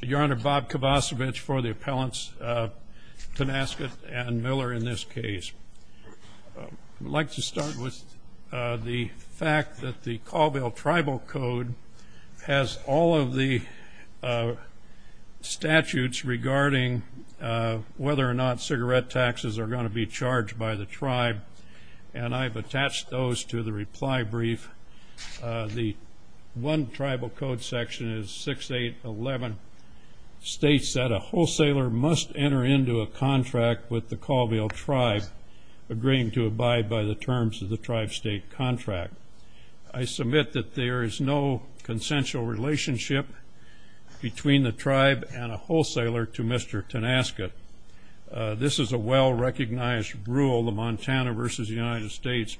Your Honor, Bob Kovacevich for the appellants, Tonasket and Miller in this case. I'd like to start with the fact that the Colville Tribal Code has all of the statutes regarding whether or not cigarette taxes are going to be charged by the tribe. And I've attached those to the reply brief. The one tribal code section is 6811, states that a wholesaler must enter into a contract with the Colville tribe agreeing to abide by the terms of the tribe-state contract. I submit that there is no consensual relationship between the tribe and a wholesaler to Mr. Tonasket. This is a well-recognized rule, the Montana v. United States,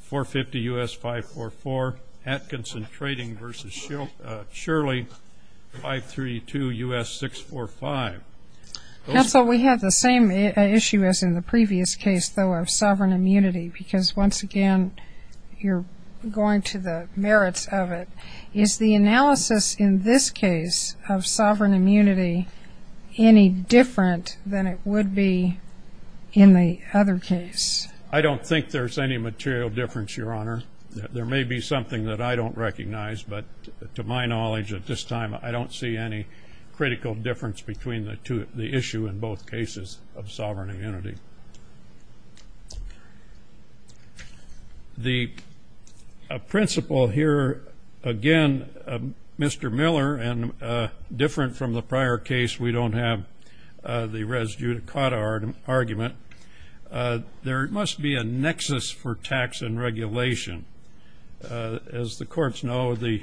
450 U.S. 544, Atkinson Trading v. Shirley, 532 U.S. 645. Counsel, we have the same issue as in the previous case, though, of sovereign immunity, because once again you're going to the merits of it. Is the analysis in this case of sovereign immunity any different than it would be in the other case? I don't think there's any material difference, Your Honor. There may be something that I don't recognize, but to my knowledge at this time I don't see any critical difference between the issue in both cases of sovereign immunity. The principle here, again, Mr. Miller and different from the prior case, we don't have the res judicata argument. There must be a nexus for tax and regulation. As the courts know, the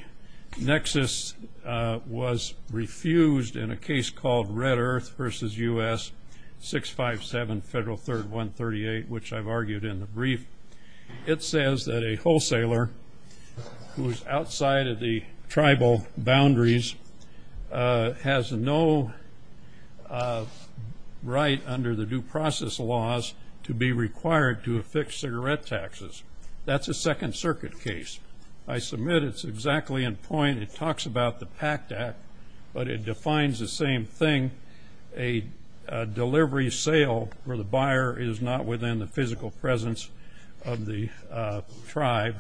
nexus was refused in a case called Red Earth v. U.S. 657 Federal Third 138, which I've argued in the brief. It says that a wholesaler who is outside of the tribal boundaries has no right under the due process laws to be required to affix cigarette taxes. That's a Second Circuit case. I submit it's exactly in point. It talks about the PACT Act, but it defines the same thing. A delivery sale for the buyer is not within the physical presence of the tribe.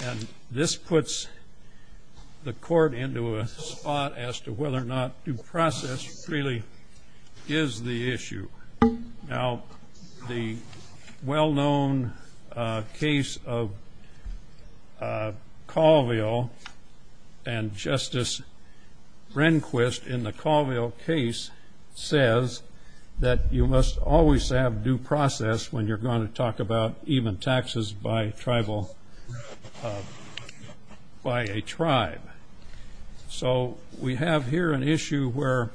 And this puts the court into a spot as to whether or not due process really is the issue. Now, the well-known case of Colville and Justice Rehnquist in the Colville case says that you must always have due process when you're going to talk about even taxes by a tribe. So we have here an issue where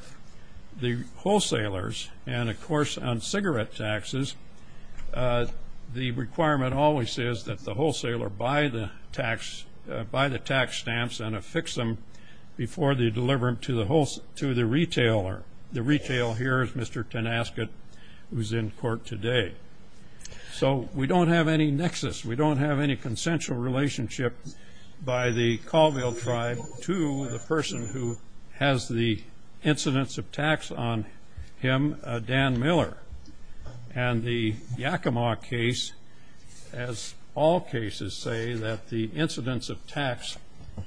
the wholesalers and, of course, on cigarette taxes, the requirement always is that the wholesaler buy the tax stamps and affix them before they deliver them to the retailer. The retailer here is Mr. Tenasket, who's in court today. So we don't have any nexus. We don't have any consensual relationship by the Colville tribe to the person who has the incidence of tax on him, Dan Miller. And the Yakima case, as all cases say, that the incidence of tax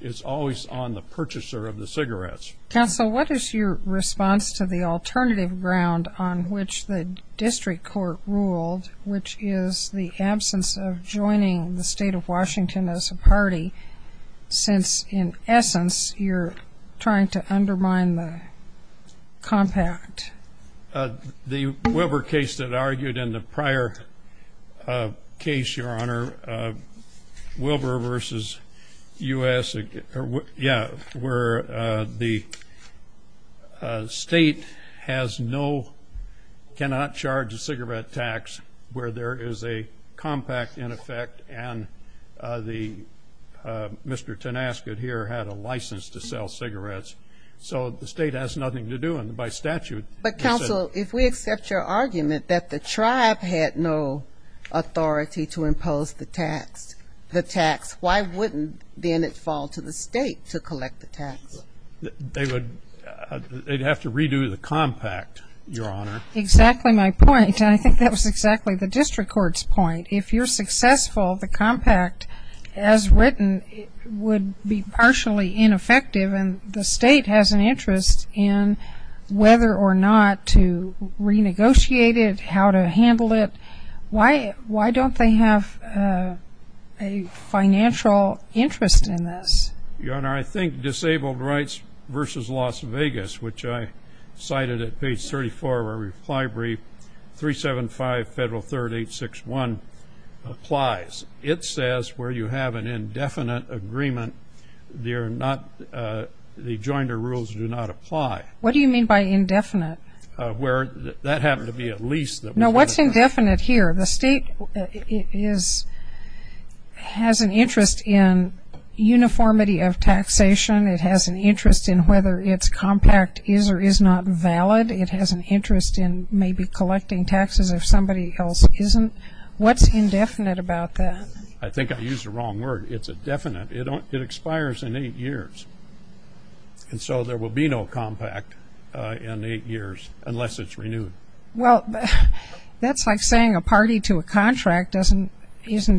is always on the purchaser of the cigarettes. Counsel, what is your response to the alternative ground on which the district court ruled, which is the absence of joining the state of Washington as a party since, in essence, you're trying to undermine the compact? The Wilbur case that argued in the prior case, Your Honor, Wilbur versus U.S. Yeah, where the state has no, cannot charge a cigarette tax where there is a compact, in effect, and Mr. Tenasket here had a license to sell cigarettes. So the state has nothing to do, and by statute. But, Counsel, if we accept your argument that the tribe had no authority to impose the tax, why wouldn't then it fall to the state to collect the tax? They would have to redo the compact, Your Honor. Exactly my point, and I think that was exactly the district court's point. If you're successful, the compact, as written, would be partially ineffective, and the state has an interest in whether or not to renegotiate it, how to handle it. Why don't they have a financial interest in this? Your Honor, I think disabled rights versus Las Vegas, which I cited at page 34 of our reply brief, 375 Federal 3861, applies. It says where you have an indefinite agreement, they're not, the joinder rules do not apply. What do you mean by indefinite? Where that happened to be at least. No, what's indefinite here? The state is, has an interest in uniformity of taxation. It has an interest in whether its compact is or is not valid. It has an interest in maybe collecting taxes if somebody else isn't. What's indefinite about that? I think I used the wrong word. It's indefinite. It expires in eight years, and so there will be no compact in eight years unless it's renewed. Well, that's like saying a party to a contract isn't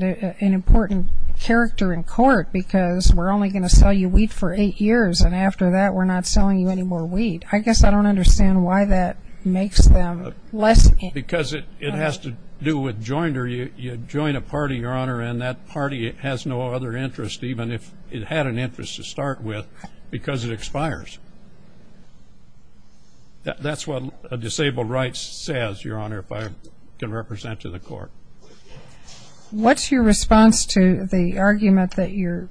an important character in court because we're only going to sell you wheat for eight years, and after that we're not selling you any more wheat. I guess I don't understand why that makes them less. Because it has to do with joinder. You join a party, Your Honor, and that party has no other interest, even if it had an interest to start with, because it expires. That's what a disabled right says, Your Honor, if I can represent to the court. What's your response to the argument that your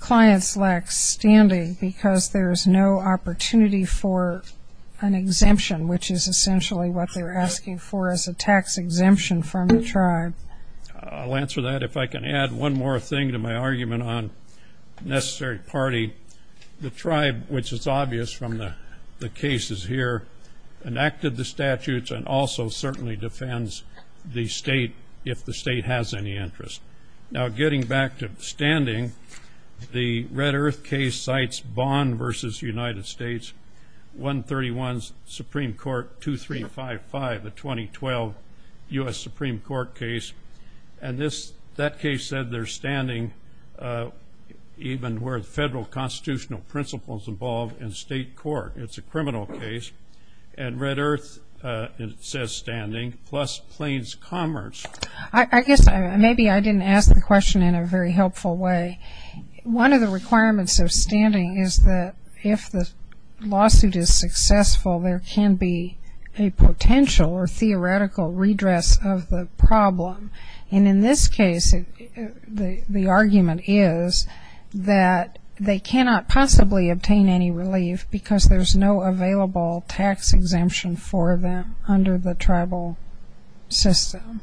clients lack standing because there's no opportunity for an exemption, which is essentially what they're asking for as a tax exemption from the tribe? I'll answer that. If I can add one more thing to my argument on necessary party, the tribe, which is obvious from the cases here, enacted the statutes and also certainly defends the state if the state has any interest. Now, getting back to standing, the Red Earth case cites Bond v. United States, 131 Supreme Court 2355, a 2012 U.S. Supreme Court case, and that case said they're standing even where the federal constitutional principles involve in state court. It's a criminal case, and Red Earth says standing, plus Plains Commerce. I guess maybe I didn't ask the question in a very helpful way. One of the requirements of standing is that if the lawsuit is successful, there can be a potential or theoretical redress of the problem. And in this case, the argument is that they cannot possibly obtain any relief because there's no available tax exemption for them under the tribal system.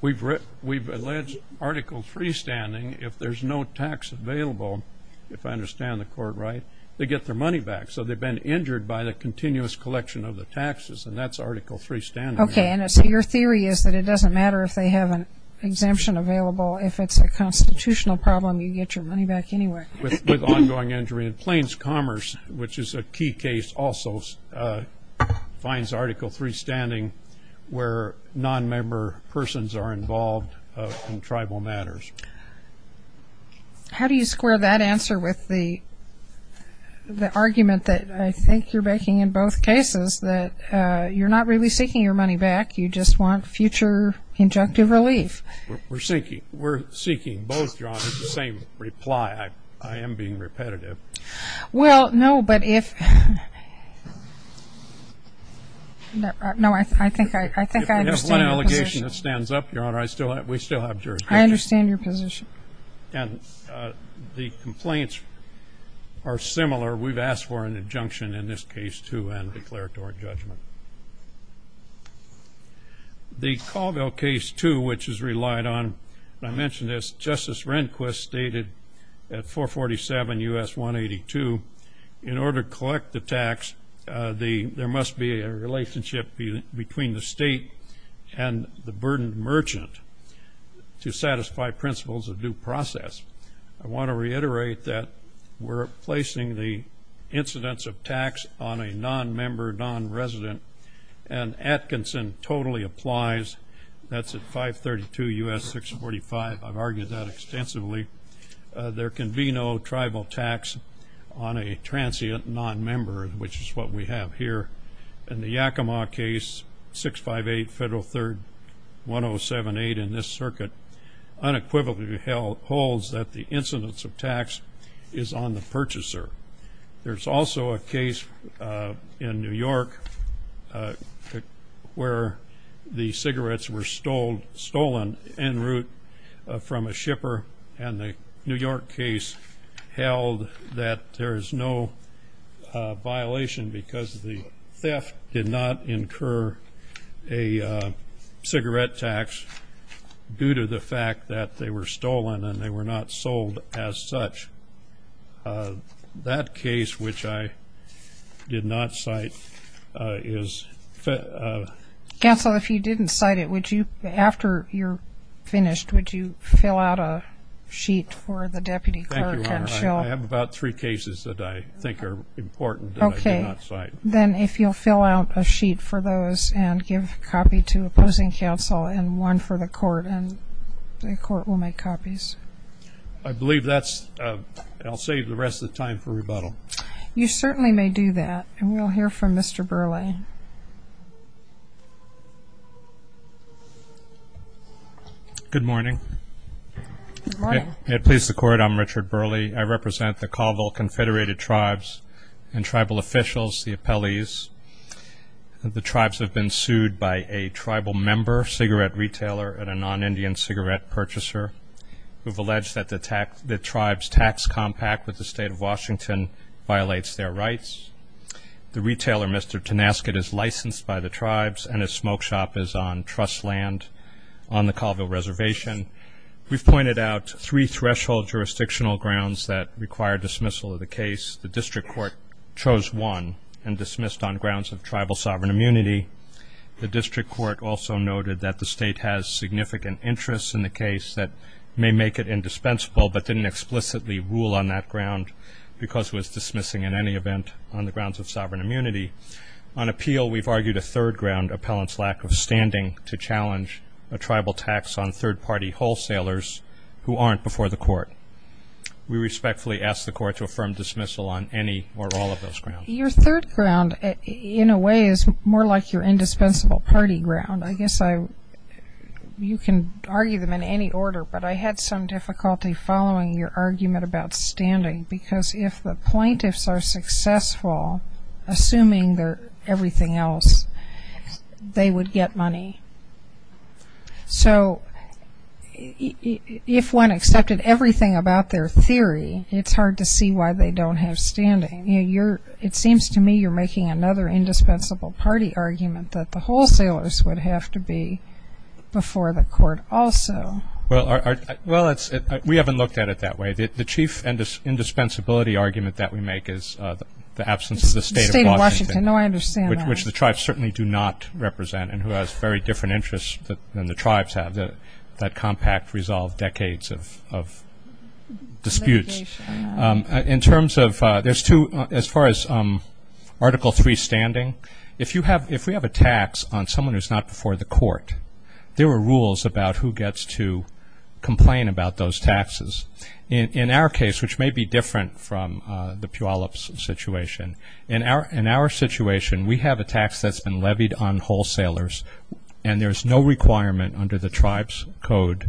We've alleged Article III standing. If there's no tax available, if I understand the court right, they get their money back. So they've been injured by the continuous collection of the taxes, and that's Article III standing. Okay, and so your theory is that it doesn't matter if they have an exemption available. If it's a constitutional problem, you get your money back anyway. With ongoing injury in Plains Commerce, which is a key case also, finds Article III standing where nonmember persons are involved in tribal matters. How do you square that answer with the argument that I think you're making in both cases, that you're not really seeking your money back, you just want future injunctive relief? We're seeking both, Your Honor, the same reply. I am being repetitive. Well, no, but if ‑‑ no, I think I understand your position. If you have one allegation that stands up, Your Honor, we still have jurisdiction. I understand your position. And the complaints are similar. We've asked for an injunction in this case, too, and declared it to our judgment. The Colville case, too, which is relied on, I mentioned as Justice Rehnquist stated at 447 U.S. 182, in order to collect the tax there must be a relationship between the state and the burdened merchant to satisfy principles of due process. I want to reiterate that we're placing the incidence of tax on a nonmember, nonresident, and Atkinson totally applies. That's at 532 U.S. 645. I've argued that extensively. There can be no tribal tax on a transient nonmember, which is what we have here. In the Yakima case, 658 Federal 3rd 1078 in this circuit, unequivocally holds that the incidence of tax is on the purchaser. There's also a case in New York where the cigarettes were stolen en route from a shipper, and the New York case held that there is no violation because the theft did not incur a cigarette tax due to the fact that they were stolen and they were not sold as such. That case, which I did not cite, is- Counsel, if you didn't cite it, would you, after you're finished, would you fill out a sheet for the deputy clerk and she'll- Thank you, Your Honor. I have about three cases that I think are important that I did not cite. Then if you'll fill out a sheet for those and give a copy to opposing counsel and one for the court, and the court will make copies. I believe that's-I'll save the rest of the time for rebuttal. You certainly may do that, and we'll hear from Mr. Burleigh. Good morning. Good morning. It pleases the Court, I'm Richard Burleigh. I represent the Colville Confederated Tribes and tribal officials, the appellees. The tribes have been sued by a tribal member, cigarette retailer, and a non-Indian cigarette purchaser who have alleged that the tribe's tax compact with the State of Washington violates their rights. The retailer, Mr. Tenasket, is licensed by the tribes and his smoke shop is on trust land on the Colville Reservation. We've pointed out three threshold jurisdictional grounds that require dismissal of the case. The district court chose one and dismissed on grounds of tribal sovereign immunity. The district court also noted that the State has significant interests in the case that may make it indispensable but didn't explicitly rule on that ground because it was dismissing in any event on the grounds of sovereign immunity. On appeal, we've argued a third ground, to challenge a tribal tax on third-party wholesalers who aren't before the court. We respectfully ask the Court to affirm dismissal on any or all of those grounds. Your third ground, in a way, is more like your indispensable party ground. I guess you can argue them in any order, but I had some difficulty following your argument about standing because if the plaintiffs are successful, assuming everything else, they would get money. So if one accepted everything about their theory, it's hard to see why they don't have standing. It seems to me you're making another indispensable party argument that the wholesalers would have to be before the court also. Well, we haven't looked at it that way. The chief indispensability argument that we make is the absence of the State of Washington, which the tribes certainly do not represent and who has very different interests than the tribes have, that compact, resolved decades of disputes. As far as Article III standing, if we have a tax on someone who's not before the court, there are rules about who gets to complain about those taxes. In our case, which may be different from the Puyallup situation, in our situation we have a tax that's been levied on wholesalers and there's no requirement under the tribe's code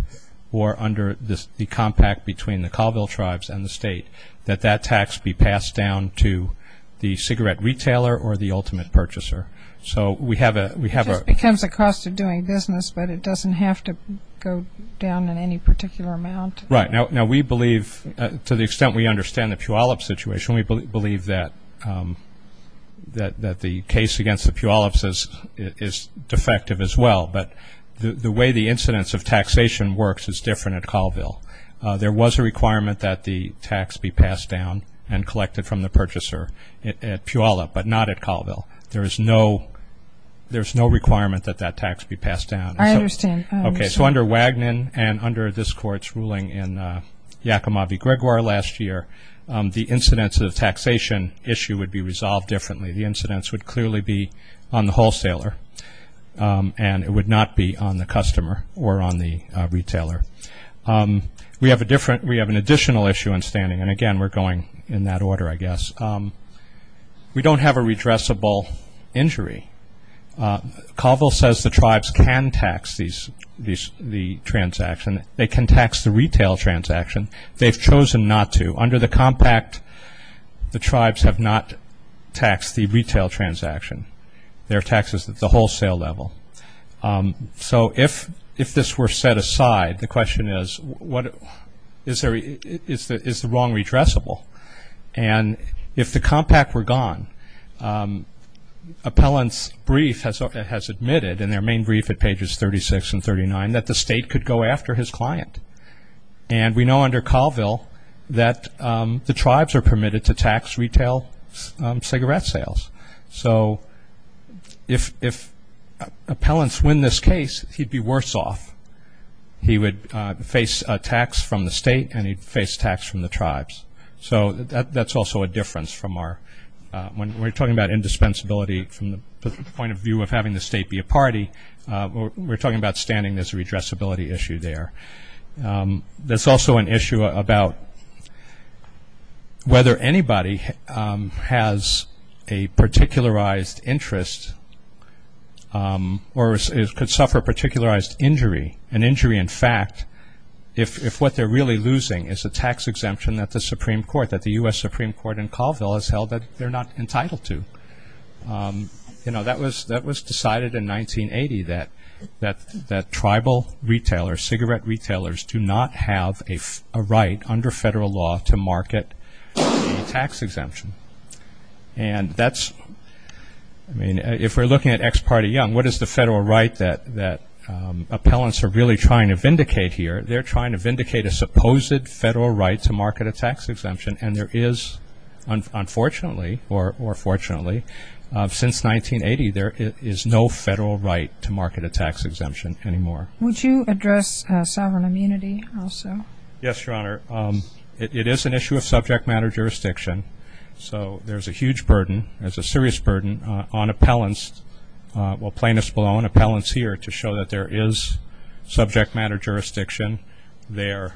or under the compact between the Colville tribes and the State that that tax be passed down to the cigarette retailer or the ultimate purchaser. It just becomes a cost of doing business, but it doesn't have to go down in any particular amount. Right. Now, we believe, to the extent we understand the Puyallup situation, we believe that the case against the Puyallups is defective as well, but the way the incidence of taxation works is different at Colville. There was a requirement that the tax be passed down and collected from the purchaser at Puyallup, but not at Colville. There is no requirement that that tax be passed down. I understand. Okay, so under Wagnon and under this court's ruling in Yakima v. Gregoire last year, the incidence of the taxation issue would be resolved differently. The incidence would clearly be on the wholesaler and it would not be on the customer or on the retailer. We have an additional issue in standing, and again, we're going in that order, I guess. We don't have a redressable injury. Colville says the tribes can tax the transaction. They can tax the retail transaction. They've chosen not to. Under the compact, the tribes have not taxed the retail transaction. Their tax is at the wholesale level. So if this were set aside, the question is, is the wrong redressable? And if the compact were gone, appellant's brief has admitted, in their main brief at pages 36 and 39, that the state could go after his client. And we know under Colville that the tribes are permitted to tax retail cigarette sales. So if appellants win this case, he'd be worse off. He would face a tax from the state and he'd face tax from the tribes. So that's also a difference from our – when we're talking about indispensability from the point of view of having the state be a party, we're talking about standing. There's a redressability issue there. There's also an issue about whether anybody has a particularized interest or could suffer a particularized injury, an injury in fact, if what they're really losing is a tax exemption that the Supreme Court, that the U.S. Supreme Court in Colville has held that they're not entitled to. You know, that was decided in 1980 that tribal retailers, cigarette retailers, do not have a right under federal law to market a tax exemption. And that's – I mean, if we're looking at Ex Parte Young, what is the federal right that appellants are really trying to vindicate here? They're trying to vindicate a supposed federal right to market a tax exemption. And there is, unfortunately or fortunately, since 1980, there is no federal right to market a tax exemption anymore. Yes, Your Honor. It is an issue of subject matter jurisdiction. So there's a huge burden, there's a serious burden on appellants, well plaintiffs below and appellants here to show that there is subject matter jurisdiction. They're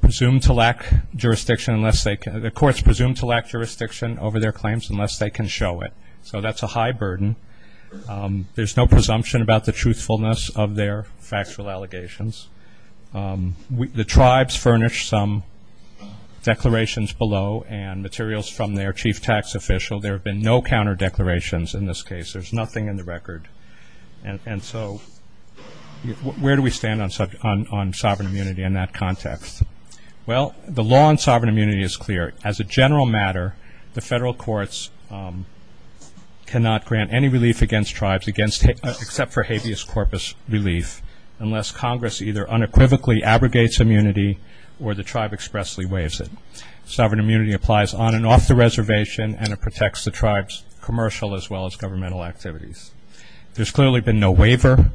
presumed to lack jurisdiction unless they can – the courts are presumed to lack jurisdiction over their claims unless they can show it. So that's a high burden. There's no presumption about the truthfulness of their factual allegations. The tribes furnish some declarations below and materials from their chief tax official. There have been no counter declarations in this case. There's nothing in the record. And so where do we stand on sovereign immunity in that context? Well, the law on sovereign immunity is clear. As a general matter, the federal courts cannot grant any relief against tribes except for habeas corpus relief unless Congress either unequivocally abrogates immunity or the tribe expressly waives it. Sovereign immunity applies on and off the reservation and it protects the tribe's commercial as well as governmental activities. There's clearly been no waiver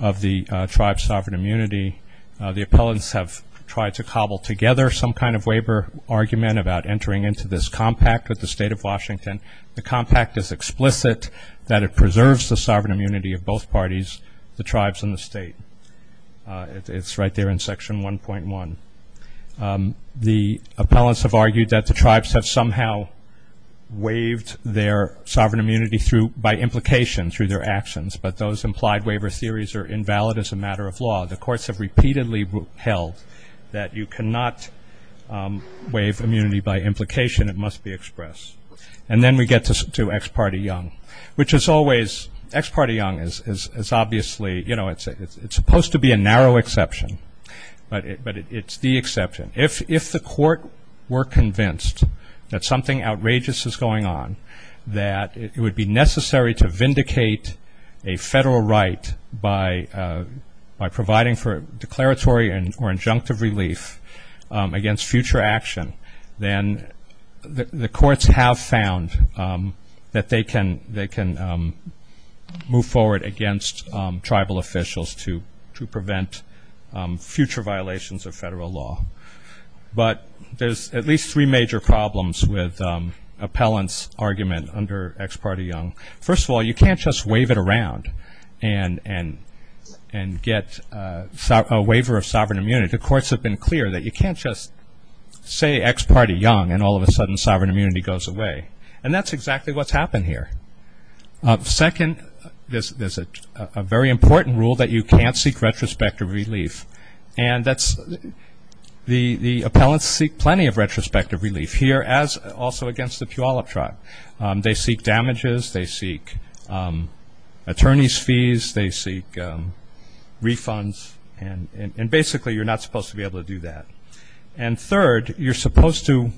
of the tribe's sovereign immunity. The appellants have tried to cobble together some kind of waiver argument about entering into this compact with the State of Washington. The compact is explicit that it preserves the sovereign immunity of both parties, the tribes and the state. It's right there in Section 1.1. The appellants have argued that the tribes have somehow waived their sovereign immunity by implication through their actions, but those implied waiver theories are invalid as a matter of law. The courts have repeatedly held that you cannot waive immunity by implication. It must be expressed. And then we get to ex parte young, which is always, ex parte young is obviously, you know, it's supposed to be a narrow exception, but it's the exception. If the court were convinced that something outrageous is going on, that it would be necessary to vindicate a federal right by providing for declaratory or injunctive relief against future action, then the courts have found that they can move forward against tribal officials to prevent future violations of federal law. But there's at least three major problems with appellants' argument under ex parte young. First of all, you can't just wave it around and get a waiver of sovereign immunity. The courts have been clear that you can't just say ex parte young, and all of a sudden sovereign immunity goes away. And that's exactly what's happened here. Second, there's a very important rule that you can't seek retrospective relief, and that's the appellants seek plenty of retrospective relief here, as also against the Puyallup tribe. They seek damages. They seek attorney's fees. They seek refunds. And basically you're not supposed to be able to do that. And third, you're supposed to,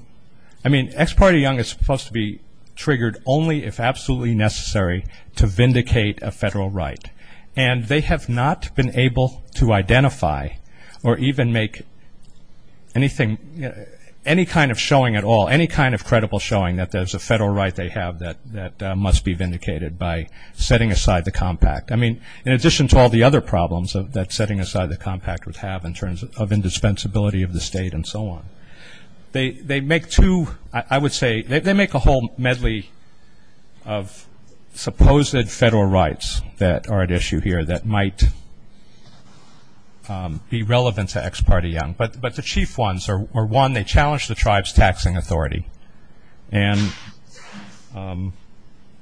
I mean, ex parte young is supposed to be triggered only if absolutely necessary to vindicate a federal right. And they have not been able to identify or even make anything, any kind of showing at all, any kind of credible showing that there's a federal right they have that must be vindicated by setting aside the compact. I mean, in addition to all the other problems that setting aside the compact would have in terms of indispensability of the state and so on, they make two, I would say, they make a whole medley of supposed federal rights that are at issue here that might be relevant to ex parte young. But the chief ones are, one, they challenge the tribe's taxing authority. And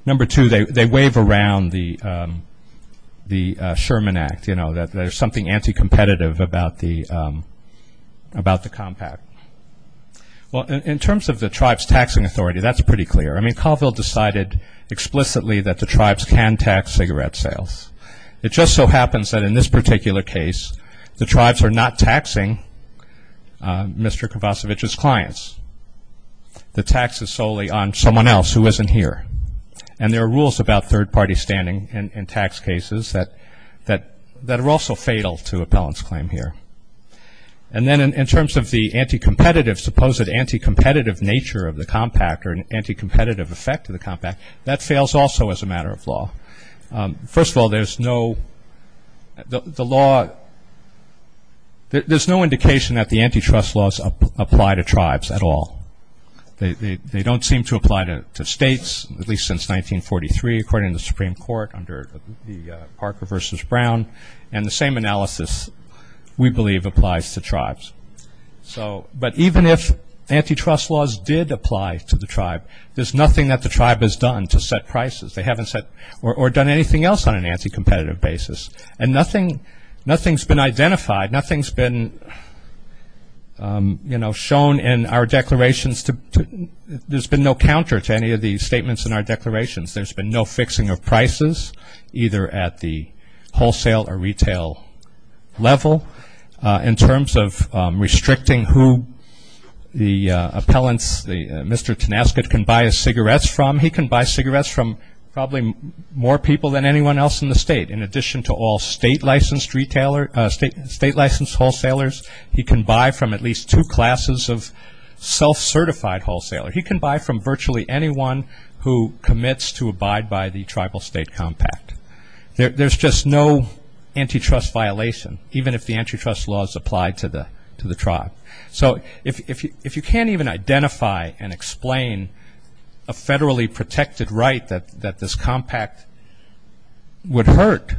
number two, they wave around the Sherman Act, you know, that there's something anti-competitive about the compact. Well, in terms of the tribe's taxing authority, that's pretty clear. I mean, Colville decided explicitly that the tribes can tax cigarette sales. It just so happens that in this particular case, the tribes are not taxing Mr. Kravacevich's clients. The tax is solely on someone else who isn't here. And there are rules about third-party standing in tax cases that are also fatal to appellant's claim here. And then in terms of the anti-competitive, supposed anti-competitive nature of the compact or an anti-competitive effect of the compact, that fails also as a matter of law. First of all, there's no indication that the antitrust laws apply to tribes at all. They don't seem to apply to states, at least since 1943, according to the Supreme Court under the Parker v. Brown. And the same analysis, we believe, applies to tribes. But even if antitrust laws did apply to the tribe, there's nothing that the tribe has done to set prices. They haven't set or done anything else on an anti-competitive basis. And nothing's been identified. Nothing's been, you know, shown in our declarations. There's been no counter to any of the statements in our declarations. There's been no fixing of prices, either at the wholesale or retail level. In terms of restricting who the appellants, Mr. Tenasket can buy his cigarettes from, he can buy cigarettes from probably more people than anyone else in the state. In addition to all state-licensed retailers, state-licensed wholesalers, he can buy from at least two classes of self-certified wholesalers. He can buy from virtually anyone who commits to abide by the tribal state compact. There's just no antitrust violation, even if the antitrust laws apply to the tribe. So if you can't even identify and explain a federally protected right that this compact would hurt,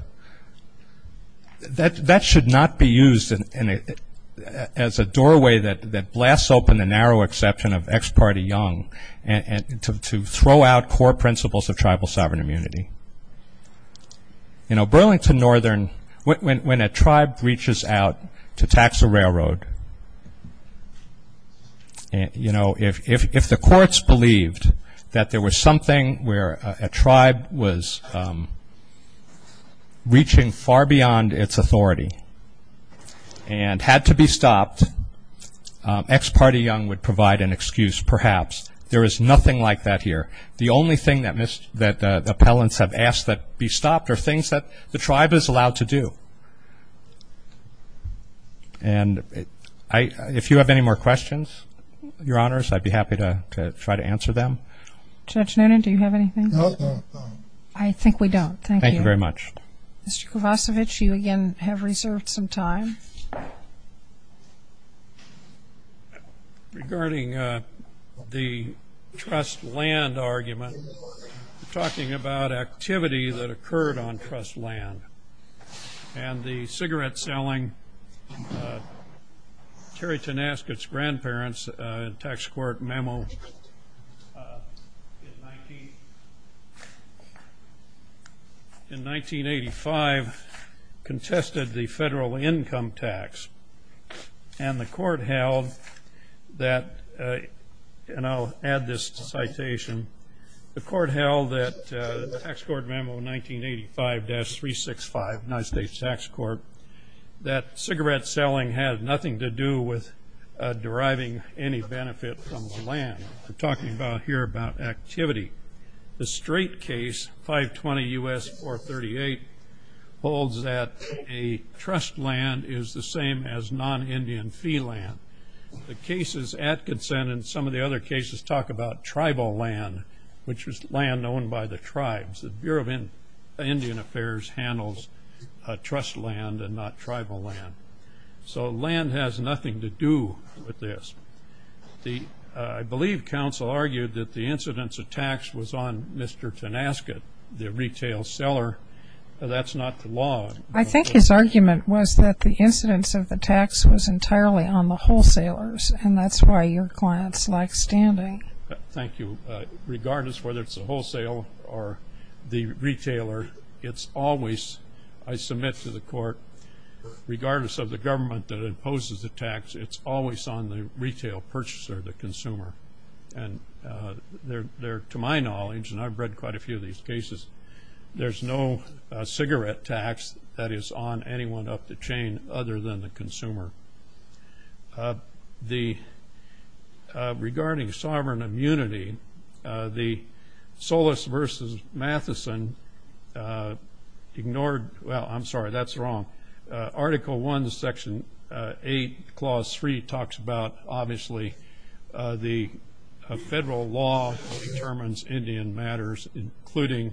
that should not be used as a doorway that blasts open the narrow exception of ex parte young to throw out core principles of tribal sovereign immunity. You know, Burlington Northern, when a tribe reaches out to tax a railroad, you know, if the courts believed that there was something where a tribe was reaching far beyond its authority and had to be stopped, ex parte young would provide an excuse, perhaps. There is nothing like that here. The only thing that appellants have asked that be stopped are things that the tribe is allowed to do. And if you have any more questions, Your Honors, I'd be happy to try to answer them. Judge Noonan, do you have anything? No. I think we don't. Thank you. Thank you very much. Mr. Kovacevic, you again have reserved some time. Regarding the trust land argument, we're talking about activity that occurred on trust land. And the cigarette selling, Terry Tenasket's grandparents' tax court memo in 1985 contested the federal income tax. And the court held that, and I'll add this to citation, the court held that, the tax court memo 1985-365, United States Tax Court, that cigarette selling had nothing to do with deriving any benefit from the land. We're talking about here about activity. The straight case, 520 U.S. 438, holds that a trust land is the same as non-Indian fee land. The cases at consent and some of the other cases talk about tribal land, which is land owned by the tribes. The Bureau of Indian Affairs handles trust land and not tribal land. So land has nothing to do with this. I believe counsel argued that the incidence of tax was on Mr. Tenasket, the retail seller. That's not the law. I think his argument was that the incidence of the tax was entirely on the wholesalers, and that's why your clients like standing. Thank you. Regardless whether it's the wholesale or the retailer, it's always, I submit to the court, regardless of the government that imposes the tax, it's always on the retail purchaser, the consumer. And to my knowledge, and I've read quite a few of these cases, there's no cigarette tax that is on anyone up the chain other than the consumer. Regarding sovereign immunity, the Solis v. Matheson ignored – well, I'm sorry, that's wrong. Article 1, Section 8, Clause 3 talks about, obviously, the federal law determines Indian matters, including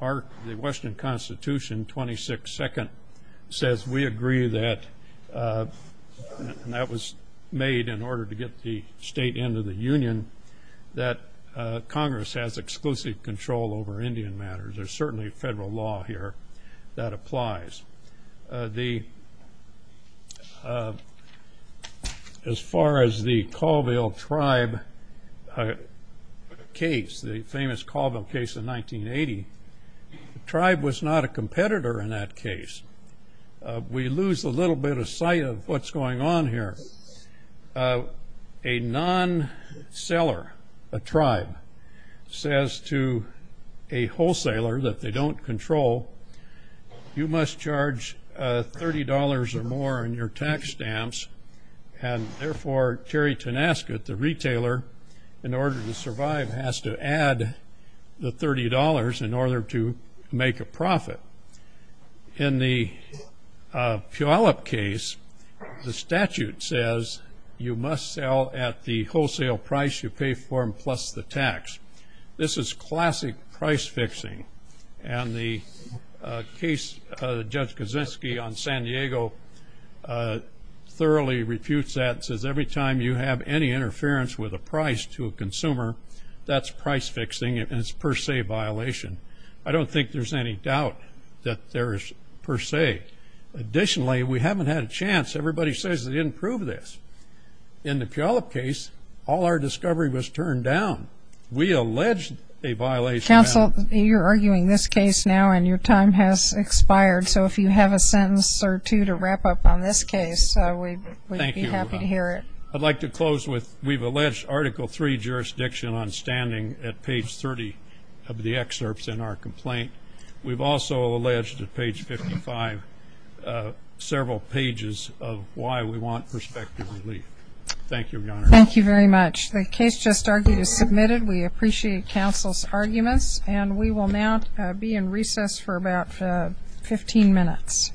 the Western Constitution, 26-2nd, says we agree that – and that was made in order to get the state into the union – that Congress has exclusive control over Indian matters. There's certainly federal law here that applies. As far as the Colville tribe case, the famous Colville case in 1980, the tribe was not a competitor in that case. We lose a little bit of sight of what's going on here. A non-seller, a tribe, says to a wholesaler that they don't control, you must charge $30 or more on your tax stamps, and therefore Terry Tenasket, the retailer, in order to survive, has to add the $30 in order to make a profit. In the Puyallup case, the statute says you must sell at the wholesale price you pay for them plus the tax. This is classic price-fixing. And the case, Judge Kosinski on San Diego thoroughly refutes that and says every time you have any interference with a price to a consumer, that's price-fixing and it's per se violation. I don't think there's any doubt that there is per se. Additionally, we haven't had a chance. Everybody says they didn't prove this. In the Puyallup case, all our discovery was turned down. We allege a violation. Counsel, you're arguing this case now and your time has expired, so if you have a sentence or two to wrap up on this case, we'd be happy to hear it. Thank you, Your Honor. I'd like to close with we've alleged Article III jurisdiction on standing at page 30 of the excerpts in our complaint. We've also alleged at page 55 several pages of why we want prospective relief. Thank you, Your Honor. Thank you very much. The case just argued is submitted. We appreciate counsel's arguments, and we will now be in recess for about 15 minutes.